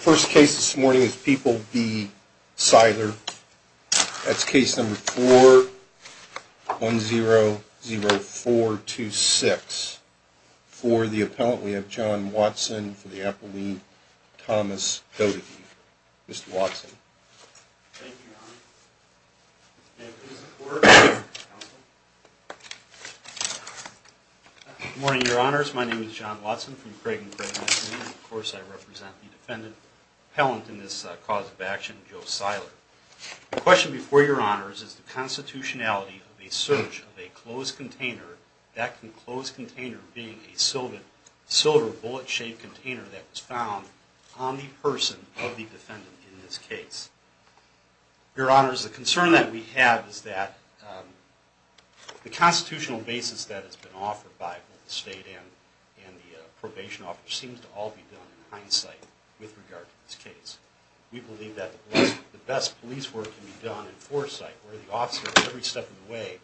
First case this morning is People v. Seiler. That's case number 4100426. For the appellant, we have John Watson for the appellee, Thomas Doty. Mr. Watson. Thank you, Your Honor. May I please have the floor? Counselor? Good morning, Your Honors. My name is John Watson from Craig & Craig. Of course, I represent the defendant appellant in this cause of action, Joe Seiler. The question before Your Honors is the constitutionality of the search of a closed container, that closed container being a silver bullet-shaped container that was found on the person of the defendant in this case. Your Honors, the concern that we have is that the constitutional basis that has been offered by both the state and the probation office seems to all be done in hindsight with regard to this case. We believe that the best police work can be done in foresight, where the officer at every step of the way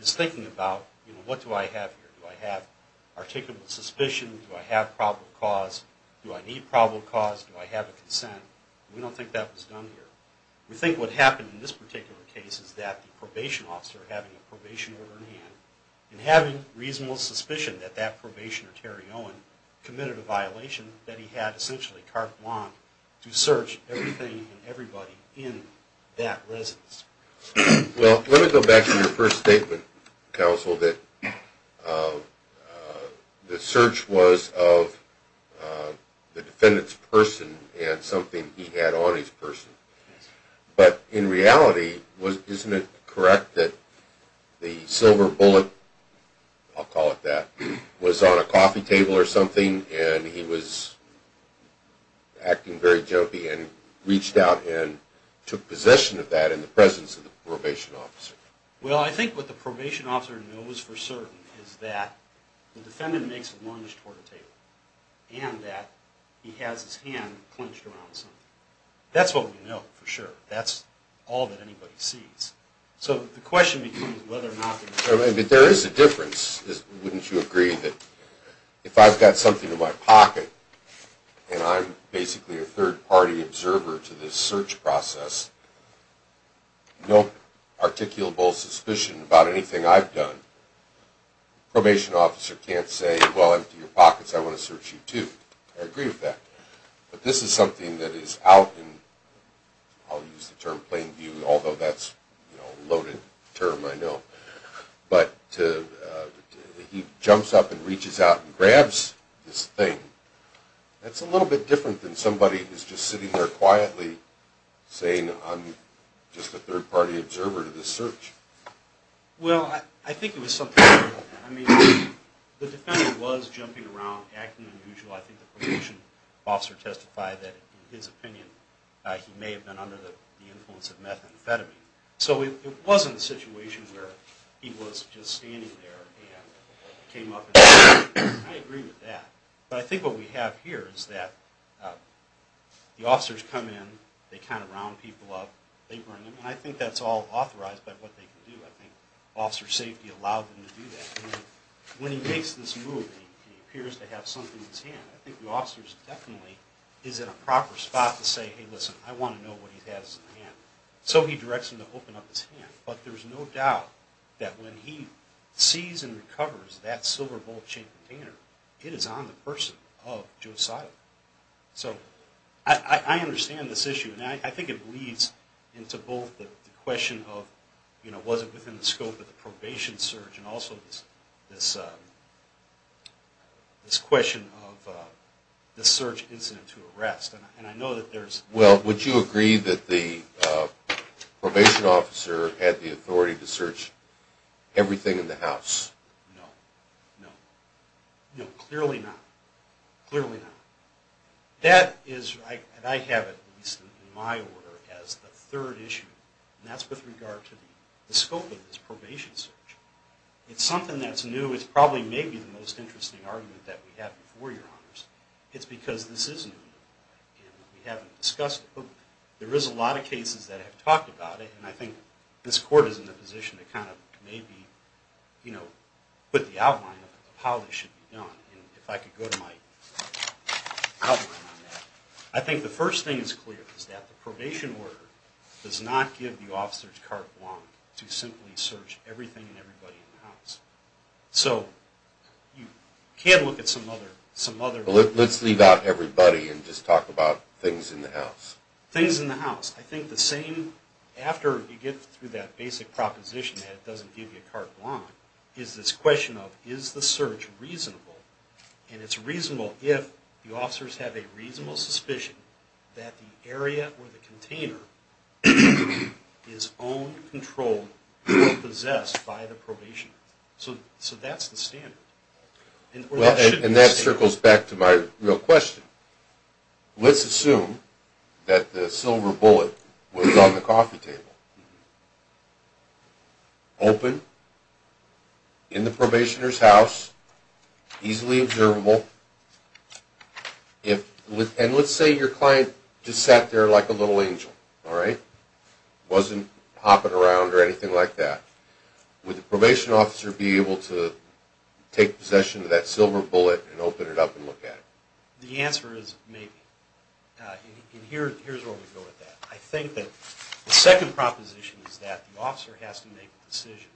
is thinking about, you know, what do I have here? Do I have articulable suspicion? Do I have probable cause? Do I need probable cause? Do I have a consent? We don't think that was done here. We think what happened in this particular case is that the probation officer having a probation order in hand and having reasonable suspicion that that probationer, Terry Owen, committed a violation, that he had essentially carte blanche to search everything and everybody in that residence. Well, let me go back to your first statement, counsel, that the search was of the defendant's person and something he had on his person. But in reality, isn't it correct that the silver bullet, I'll call it that, was on a coffee table or something and he was acting very jumpy and reached out and took possession of that in the presence of the probation officer? Well, I think what the probation officer knows for certain is that the defendant makes a lunge toward a table and that he has his hand clenched around something. That's what we know for sure. That's all that anybody sees. So the question becomes whether or not the... No articulable suspicion about anything I've done. The probation officer can't say, well, empty your pockets, I want to search you too. I agree with that. But this is something that is out in, I'll use the term plain view, although that's a loaded term, I know, but he jumps up and reaches out and grabs this thing. That's a little bit different than somebody who's just sitting there quietly saying, I'm just a third-party observer to this search. Well, I think it was something... I mean, the defendant was jumping around, acting unusual. I think the probation officer testified that, in his opinion, he may have been under the influence of methamphetamine. So it wasn't a situation where he was just standing there and came up and said, I agree with that. But I think what we have here is that the officers come in, they kind of round people up, they bring them, and I think that's all authorized by what they can do. I think officer safety allowed them to do that. When he makes this move and he appears to have something in his hand, I think the officer definitely is in a proper spot to say, hey, listen, I want to know what he has in his hand. So he directs him to open up his hand. But there's no doubt that when he sees and recovers that silver bowl-shaped container, it is on the person of Joe Seiler. So I understand this issue, and I think it leads into both the question of, was it within the scope of the probation search, and also this question of the search incident to arrest. Well, would you agree that the probation officer had the authority to search everything in the house? No. No. No, clearly not. Clearly not. That is, and I have it in my order as the third issue, and that's with regard to the scope of this probation search. It's something that's new. It's probably maybe the most interesting argument that we have before your honors. It's because this is new, and we haven't discussed it. There is a lot of cases that have talked about it, and I think this court is in a position to kind of maybe put the outline of how this should be done. And if I could go to my outline on that. I think the first thing is clear, is that the probation order does not give the officers carte blanche to simply search everything and everybody in the house. So you can look at some other... Let's leave out everybody and just talk about things in the house. Things in the house. I think the same, after you get through that basic proposition that it doesn't give you carte blanche, is this question of, is the search reasonable? And it's reasonable if the officers have a reasonable suspicion that the area or the container is owned, controlled, or possessed by the probationer. So that's the standard. And that circles back to my real question. Let's assume that the silver bullet was on the coffee table. Open, in the probationer's house, easily observable. And let's say your client just sat there like a little angel. Wasn't hopping around or anything like that. Would the probation officer be able to take possession of that silver bullet and open it up and look at it? The answer is, maybe. And here's where we go with that. I think that the second proposition is that the officer has to make a decision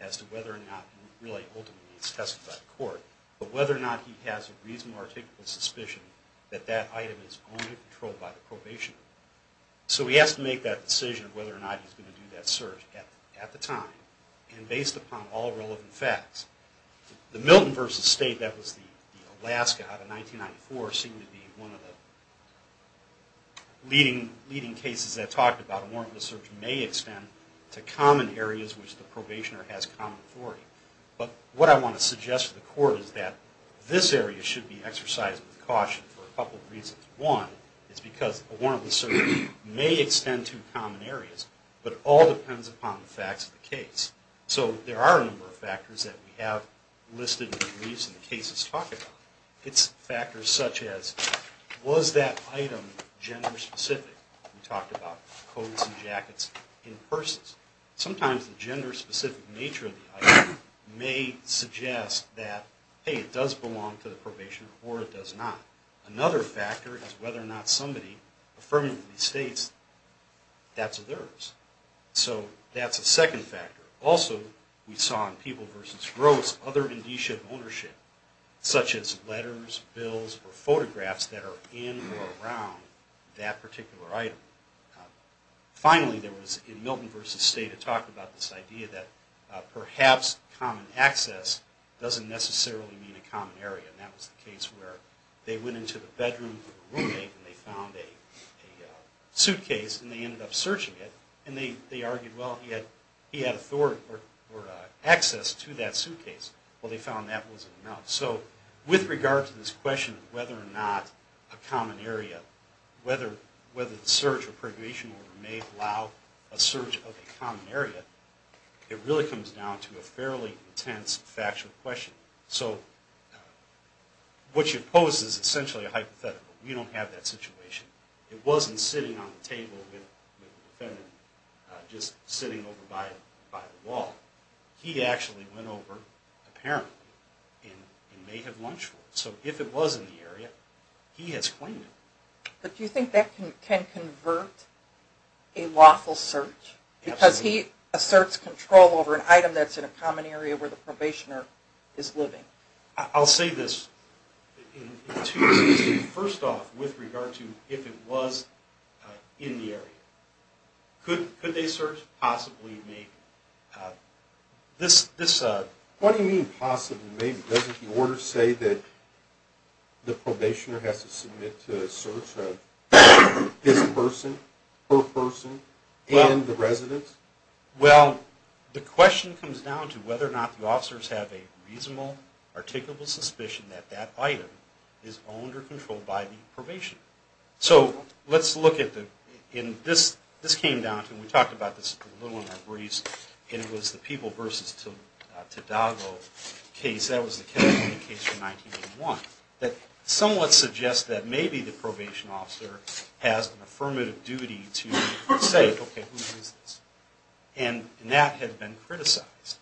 as to whether or not, really ultimately it's testified in court, but whether or not he has a reasonable, articulable suspicion that that item is owned and controlled by the probationer. So he has to make that decision of whether or not he's going to do that search at the time, and based upon all relevant facts. The Milton v. State, that was the Alaska out of 1994, seemed to be one of the leading cases that talked about a warrantless search may extend to common areas which the probationer has common authority. But what I want to suggest to the court is that this area should be exercised with caution for a couple of reasons. One is because a warrantless search may extend to common areas, but all depends upon the facts of the case. So there are a number of factors that we have listed in the briefs and the cases talked about. It's factors such as, was that item gender specific? We talked about coats and jackets in purses. Sometimes the gender specific nature of the item may suggest that, hey, it does belong to the probationer or it does not. Another factor is whether or not somebody affirmatively states that's theirs. So that's a second factor. Also, we saw in People v. Gross other indicia of ownership, such as letters, bills, or photographs that are in or around that particular item. Finally, there was, in Milton v. State, a talk about this idea that perhaps common access doesn't necessarily mean a common area. And that was the case where they went into the bedroom of a roommate and they found a suitcase and they ended up searching it. And they argued, well, he had authority or access to that suitcase. Well, they found that wasn't enough. So with regard to this question of whether or not a common area, whether the search or probation order may allow a search of a common area, it really comes down to a fairly intense factual question. So what you pose is essentially a hypothetical. We don't have that situation. It wasn't sitting on the table with the defendant just sitting over by the wall. He actually went over apparently and may have lunched for it. So if it was in the area, he has claimed it. But do you think that can convert a lawful search? Absolutely. If he asserts control over an item that's in a common area where the probationer is living. I'll say this in two instances. First off, with regard to if it was in the area. Could they search? Possibly, maybe. What do you mean possibly, maybe? Doesn't the order say that the probationer has to submit to a search of this person, her person, and the residence? Well, the question comes down to whether or not the officers have a reasonable, articulable suspicion that that item is owned or controlled by the probation. So let's look at the, and this came down to, and we talked about this a little in our briefs, and it was the People v. Tadago case. That was the California case from 1981. That somewhat suggests that maybe the probation officer has an affirmative duty to say, okay, who is this? And that had been criticized.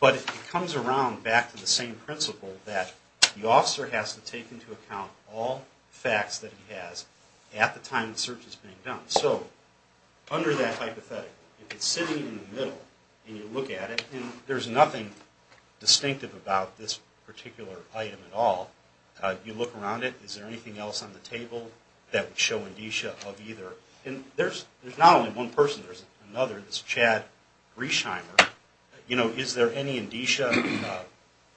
But it comes around back to the same principle that the officer has to take into account all facts that he has at the time the search is being done. So under that hypothetic, if it's sitting in the middle and you look at it, and there's nothing distinctive about this particular item at all, you look around it, is there anything else on the table that would show indicia of either? And there's not only one person, there's another, this Chad Griesheimer. You know, is there any indicia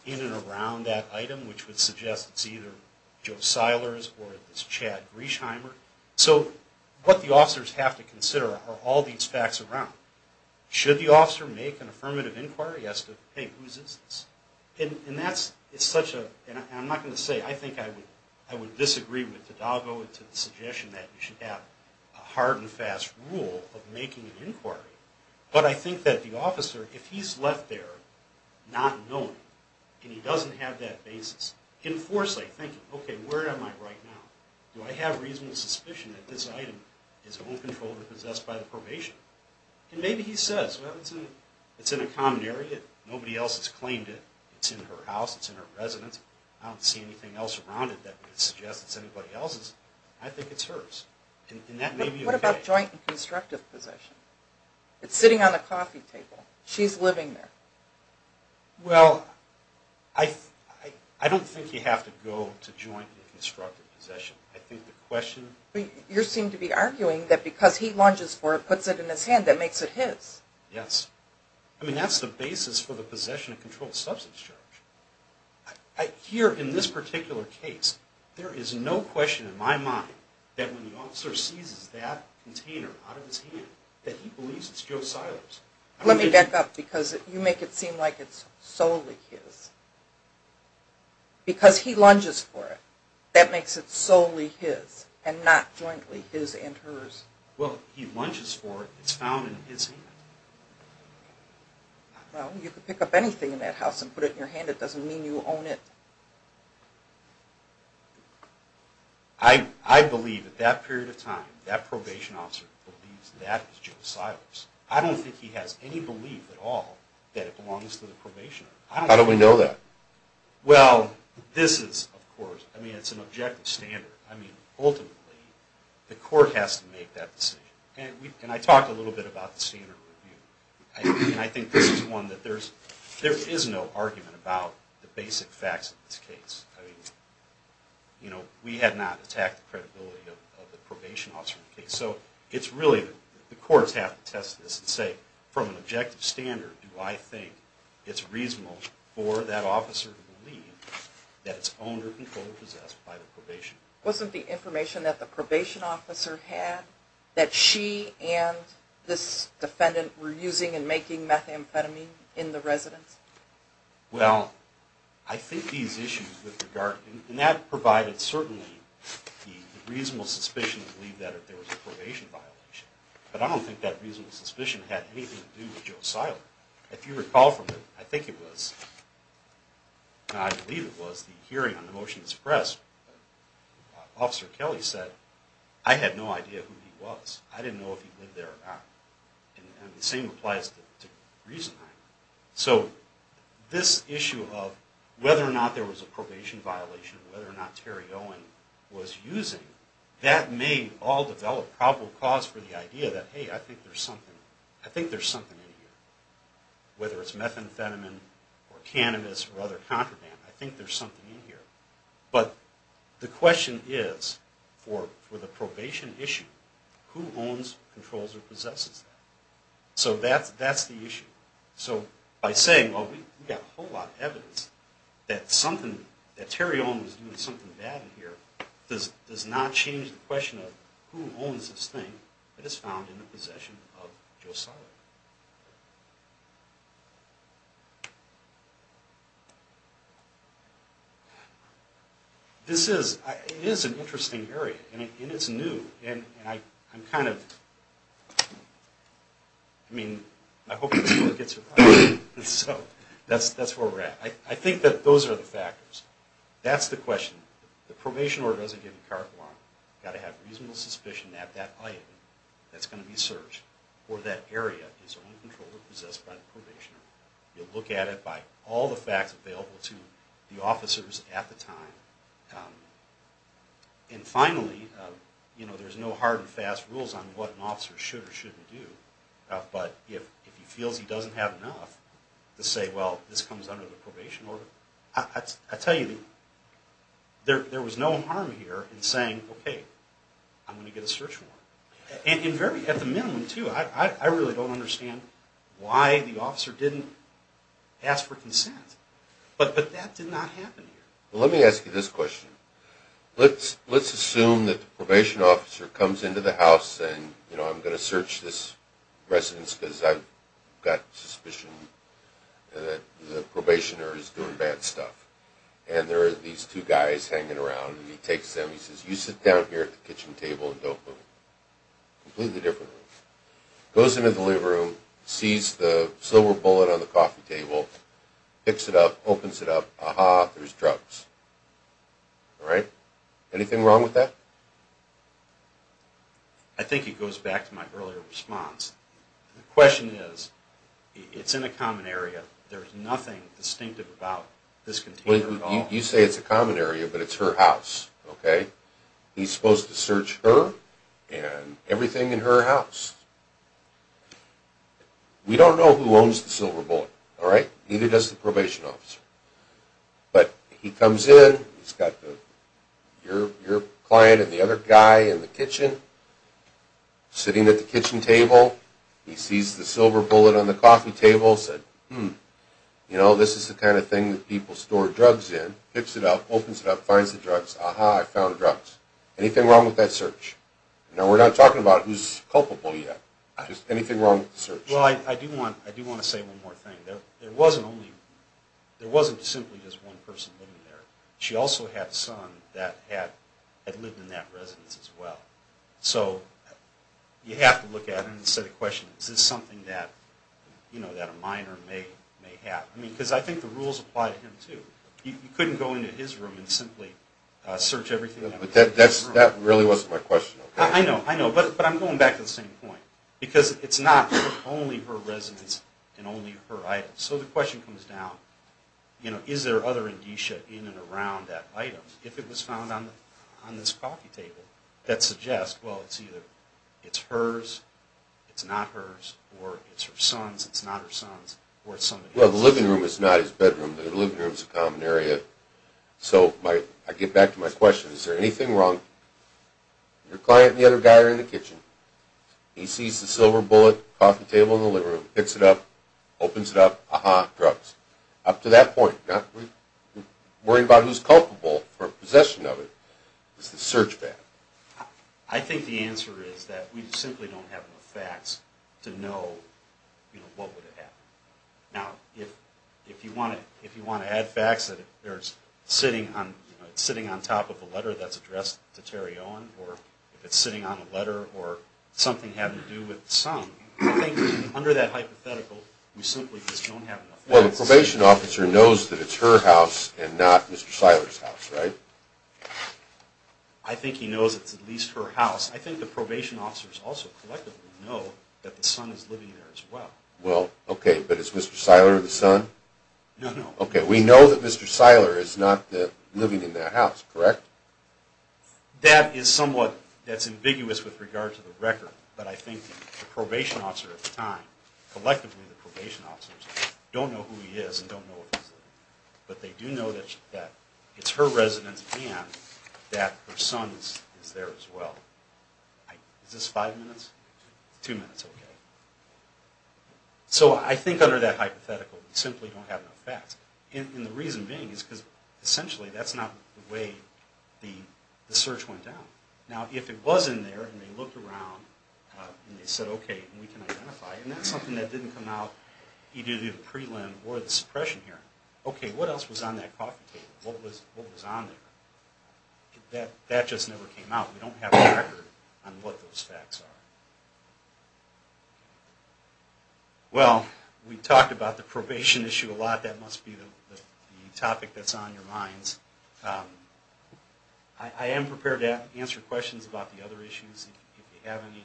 in and around that item, which would suggest it's either Joe Silers or this Chad Griesheimer? So what the officers have to consider are all these facts around. Should the officer make an affirmative inquiry as to, hey, whose is this? And that's such a, and I'm not going to say, I think I would disagree with Tadago to the suggestion that you should have a hard and fast rule of making an inquiry. But I think that the officer, if he's left there not knowing, and he doesn't have that basis, in foresight thinking, okay, where am I right now? Do I have reasonable suspicion that this item is owned, controlled, or possessed by the probation? And maybe he says, well, it's in a common area. Nobody else has claimed it. It's in her house. It's in her residence. I don't see anything else around it that would suggest it's anybody else's. I think it's hers. And that may be okay. What about joint and constructive possession? It's sitting on the coffee table. She's living there. Well, I don't think you have to go to joint and constructive possession. I think the question... You seem to be arguing that because he lunges for it, puts it in his hand, that makes it his. Yes. I mean, that's the basis for the possession of controlled substance charge. Here, in this particular case, there is no question in my mind that when the officer seizes that container out of his hand, that he believes it's Joe Seiler's. Let me back up, because you make it seem like it's solely his. Because he lunges for it, that makes it solely his, and not jointly his and hers. Well, he lunges for it. It's found in his hand. Well, you could pick up anything in that house and put it in your hand. It doesn't mean you own it. I believe, at that period of time, that probation officer believes that is Joe Seiler's. I don't think he has any belief at all that it belongs to the probation officer. How do we know that? Well, this is, of course... I mean, it's an objective standard. I mean, ultimately, the court has to make that decision. And I talked a little bit about the standard review. And I think this is one that there is no argument about the basic facts of this case. I mean, you know, we have not attacked the credibility of the probation officer in this case. So it's really the courts have to test this and say, from an objective standard, do I think it's reasonable for that officer to believe that it's owned or controlled or possessed by the probation? Wasn't the information that the probation officer had, that she and this defendant were using and making methamphetamine in the residence? Well, I think these issues with regard... And that provided certainly the reasonable suspicion to believe that there was a probation violation. But I don't think that reasonable suspicion had anything to do with Joe Seiler. If you recall from it, I think it was... I believe it was the hearing on the motion to suppress, Officer Kelly said, I had no idea who he was. I didn't know if he lived there or not. And the same applies to reason. So this issue of whether or not there was a probation violation, whether or not Terry Owen was using, that may all develop probable cause for the idea that, hey, I think there's something in here. Whether it's methamphetamine or cannabis or other contraband, I think there's something in here. But the question is, for the probation issue, who owns, controls, or possesses that? So that's the issue. So by saying, well, we've got a whole lot of evidence that something, that Terry Owen was doing something bad in here, does not change the question of who owns this thing that is found in the possession of Joe Seiler. This is an interesting area. And it's new. And I'm kind of, I mean, I hope this really gets it right. So that's where we're at. I think that those are the factors. That's the question. The probation order doesn't give you carte blanche. You've got to have reasonable suspicion that that item that's going to be searched, or that area, is owned, controlled, or possessed by the probationer. You'll look at it by all the facts available to the officers at the time. And finally, you know, there's no hard and fast rules on what an officer should or shouldn't do. But if he feels he doesn't have enough to say, well, this comes under the probation order, I tell you, there was no harm here in saying, okay, I'm going to get a search warrant. And at the minimum, too, I really don't understand why the officer didn't ask for consent. But that did not happen here. Let me ask you this question. Let's assume that the probation officer comes into the house and, you know, I'm going to search this residence because I've got suspicion that the probationer is doing bad stuff. And there are these two guys hanging around, and he takes them. He says, you sit down here at the kitchen table and don't move. Completely different room. Goes into the living room, sees the silver bullet on the coffee table, picks it up, opens it up. Aha, there's drugs. All right? Anything wrong with that? I think it goes back to my earlier response. The question is, it's in a common area. There's nothing distinctive about this container at all. You say it's a common area, but it's her house, okay? He's supposed to search her and everything in her house. We don't know who owns the silver bullet, all right? Neither does the probation officer. But he comes in. He's got your client and the other guy in the kitchen sitting at the kitchen table. He sees the silver bullet on the coffee table, said, hmm, you know, this is the kind of thing that people store drugs in. Picks it up, opens it up, finds the drugs. Aha, I found drugs. Anything wrong with that search? Now, we're not talking about who's culpable yet. Just anything wrong with the search? Well, I do want to say one more thing. There wasn't simply just one person living there. She also had a son that had lived in that residence as well. So you have to look at it and say the question, is this something that a minor may have? Because I think the rules apply to him too. You couldn't go into his room and simply search everything. That really wasn't my question. I know, I know, but I'm going back to the same point. Because it's not only her residence and only her items. So the question comes down, you know, is there other indicia in and around that item? If it was found on this coffee table, that suggests, well, it's either it's hers, it's not hers, or it's her son's, it's not her son's, or it's somebody else's. Well, the living room is not his bedroom. The living room is a common area. So I get back to my question. Your client and the other guy are in the kitchen. He sees the silver bullet, coffee table in the living room, picks it up, opens it up, ah-ha, drugs. Up to that point, not worrying about who's culpable for possession of it, is the search bad. I think the answer is that we simply don't have the facts to know, you know, what would have happened. Now, if you want to add facts that it's sitting on top of a letter that's addressed to Terry Owen, or if it's sitting on a letter or something having to do with the son, I think under that hypothetical, we simply just don't have enough facts. Well, the probation officer knows that it's her house and not Mr. Seiler's house, right? I think he knows it's at least her house. I think the probation officers also collectively know that the son is living there as well. Well, okay, but is Mr. Seiler the son? No, no. Okay, we know that Mr. Seiler is not living in that house, correct? That is somewhat, that's ambiguous with regard to the record, but I think the probation officer at the time, collectively the probation officers, don't know who he is and don't know where he's living. But they do know that it's her residence and that her son is there as well. Is this five minutes? Two minutes, okay. So I think under that hypothetical, we simply don't have enough facts. And the reason being is because essentially that's not the way the search went down. Now, if it was in there and they looked around and they said, okay, we can identify it, and that's something that didn't come out either the prelim or the suppression hearing, okay, what else was on that coffee table? What was on there? That just never came out. We don't have a record on what those facts are. Well, we talked about the probation issue a lot. That must be the topic that's on your minds. I am prepared to answer questions about the other issues if you have any.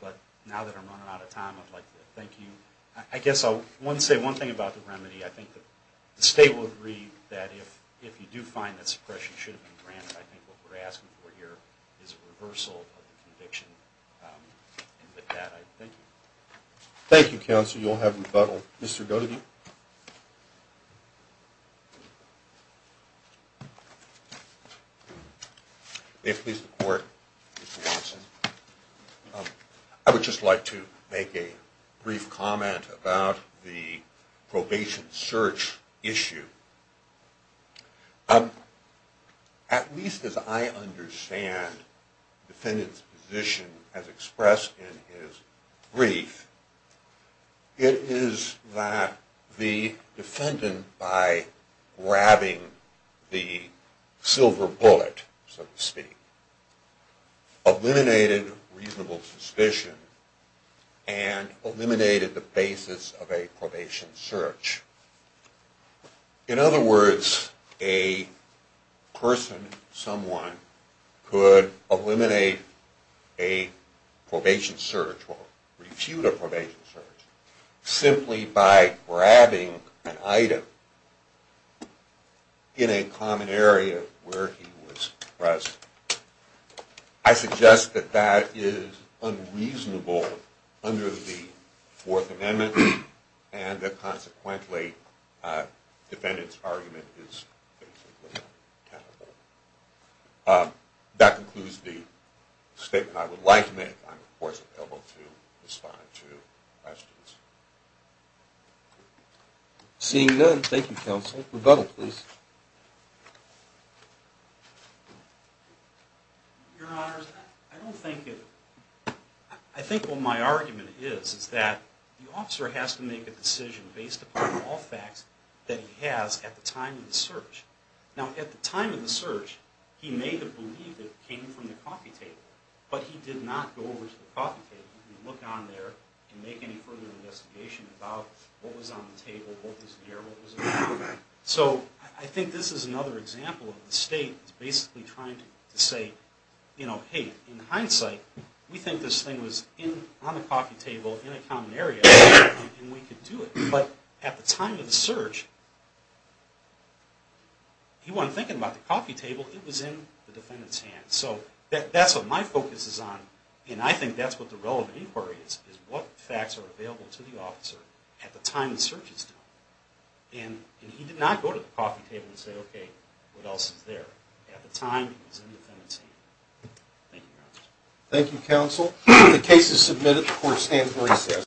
But now that I'm running out of time, I'd like to thank you. I guess I'll say one thing about the remedy. I think the state will agree that if you do find that suppression should have been granted, I think what we're asking for here is a reversal of the conviction. And with that, I thank you. Thank you, Counsel. You'll have rebuttal. Mr. Godegie? May it please the Court, Mr. Watson. I would just like to make a brief comment about the probation search issue. At least as I understand the defendant's position as expressed in his brief, it is that the defendant, by grabbing the silver bullet, so to speak, eliminated reasonable suspicion and eliminated the basis of a probation search. In other words, a person, someone, could eliminate a probation search or refute a probation search simply by grabbing an item in a common area where he was present. I suggest that that is unreasonable under the Fourth Amendment and that consequently the defendant's argument is basically not tenable. That concludes the statement I would like to make. I'm, of course, available to respond to questions. Seeing none, thank you, Counsel. Rebuttal, please. Your Honors, I think what my argument is, is that the officer has to make a decision based upon all facts that he has at the time of the search. Now, at the time of the search, he may have believed it came from the coffee table, but he did not go over to the coffee table and look on there and make any further investigation about what was on the table, what was there, what was around. So I think this is another example of the State basically trying to say, you know, hey, in hindsight, we think this thing was on the coffee table in a common area and we could do it. But at the time of the search, he wasn't thinking about the coffee table. It was in the defendant's hands. So that's what my focus is on, and I think that's what the relevant inquiry is, is what facts are available to the officer at the time the search is done. And he did not go to the coffee table and say, okay, what else is there? At the time, it was in the defendant's hands. Thank you, Your Honors. Thank you, Counsel. The case is submitted before standing recess.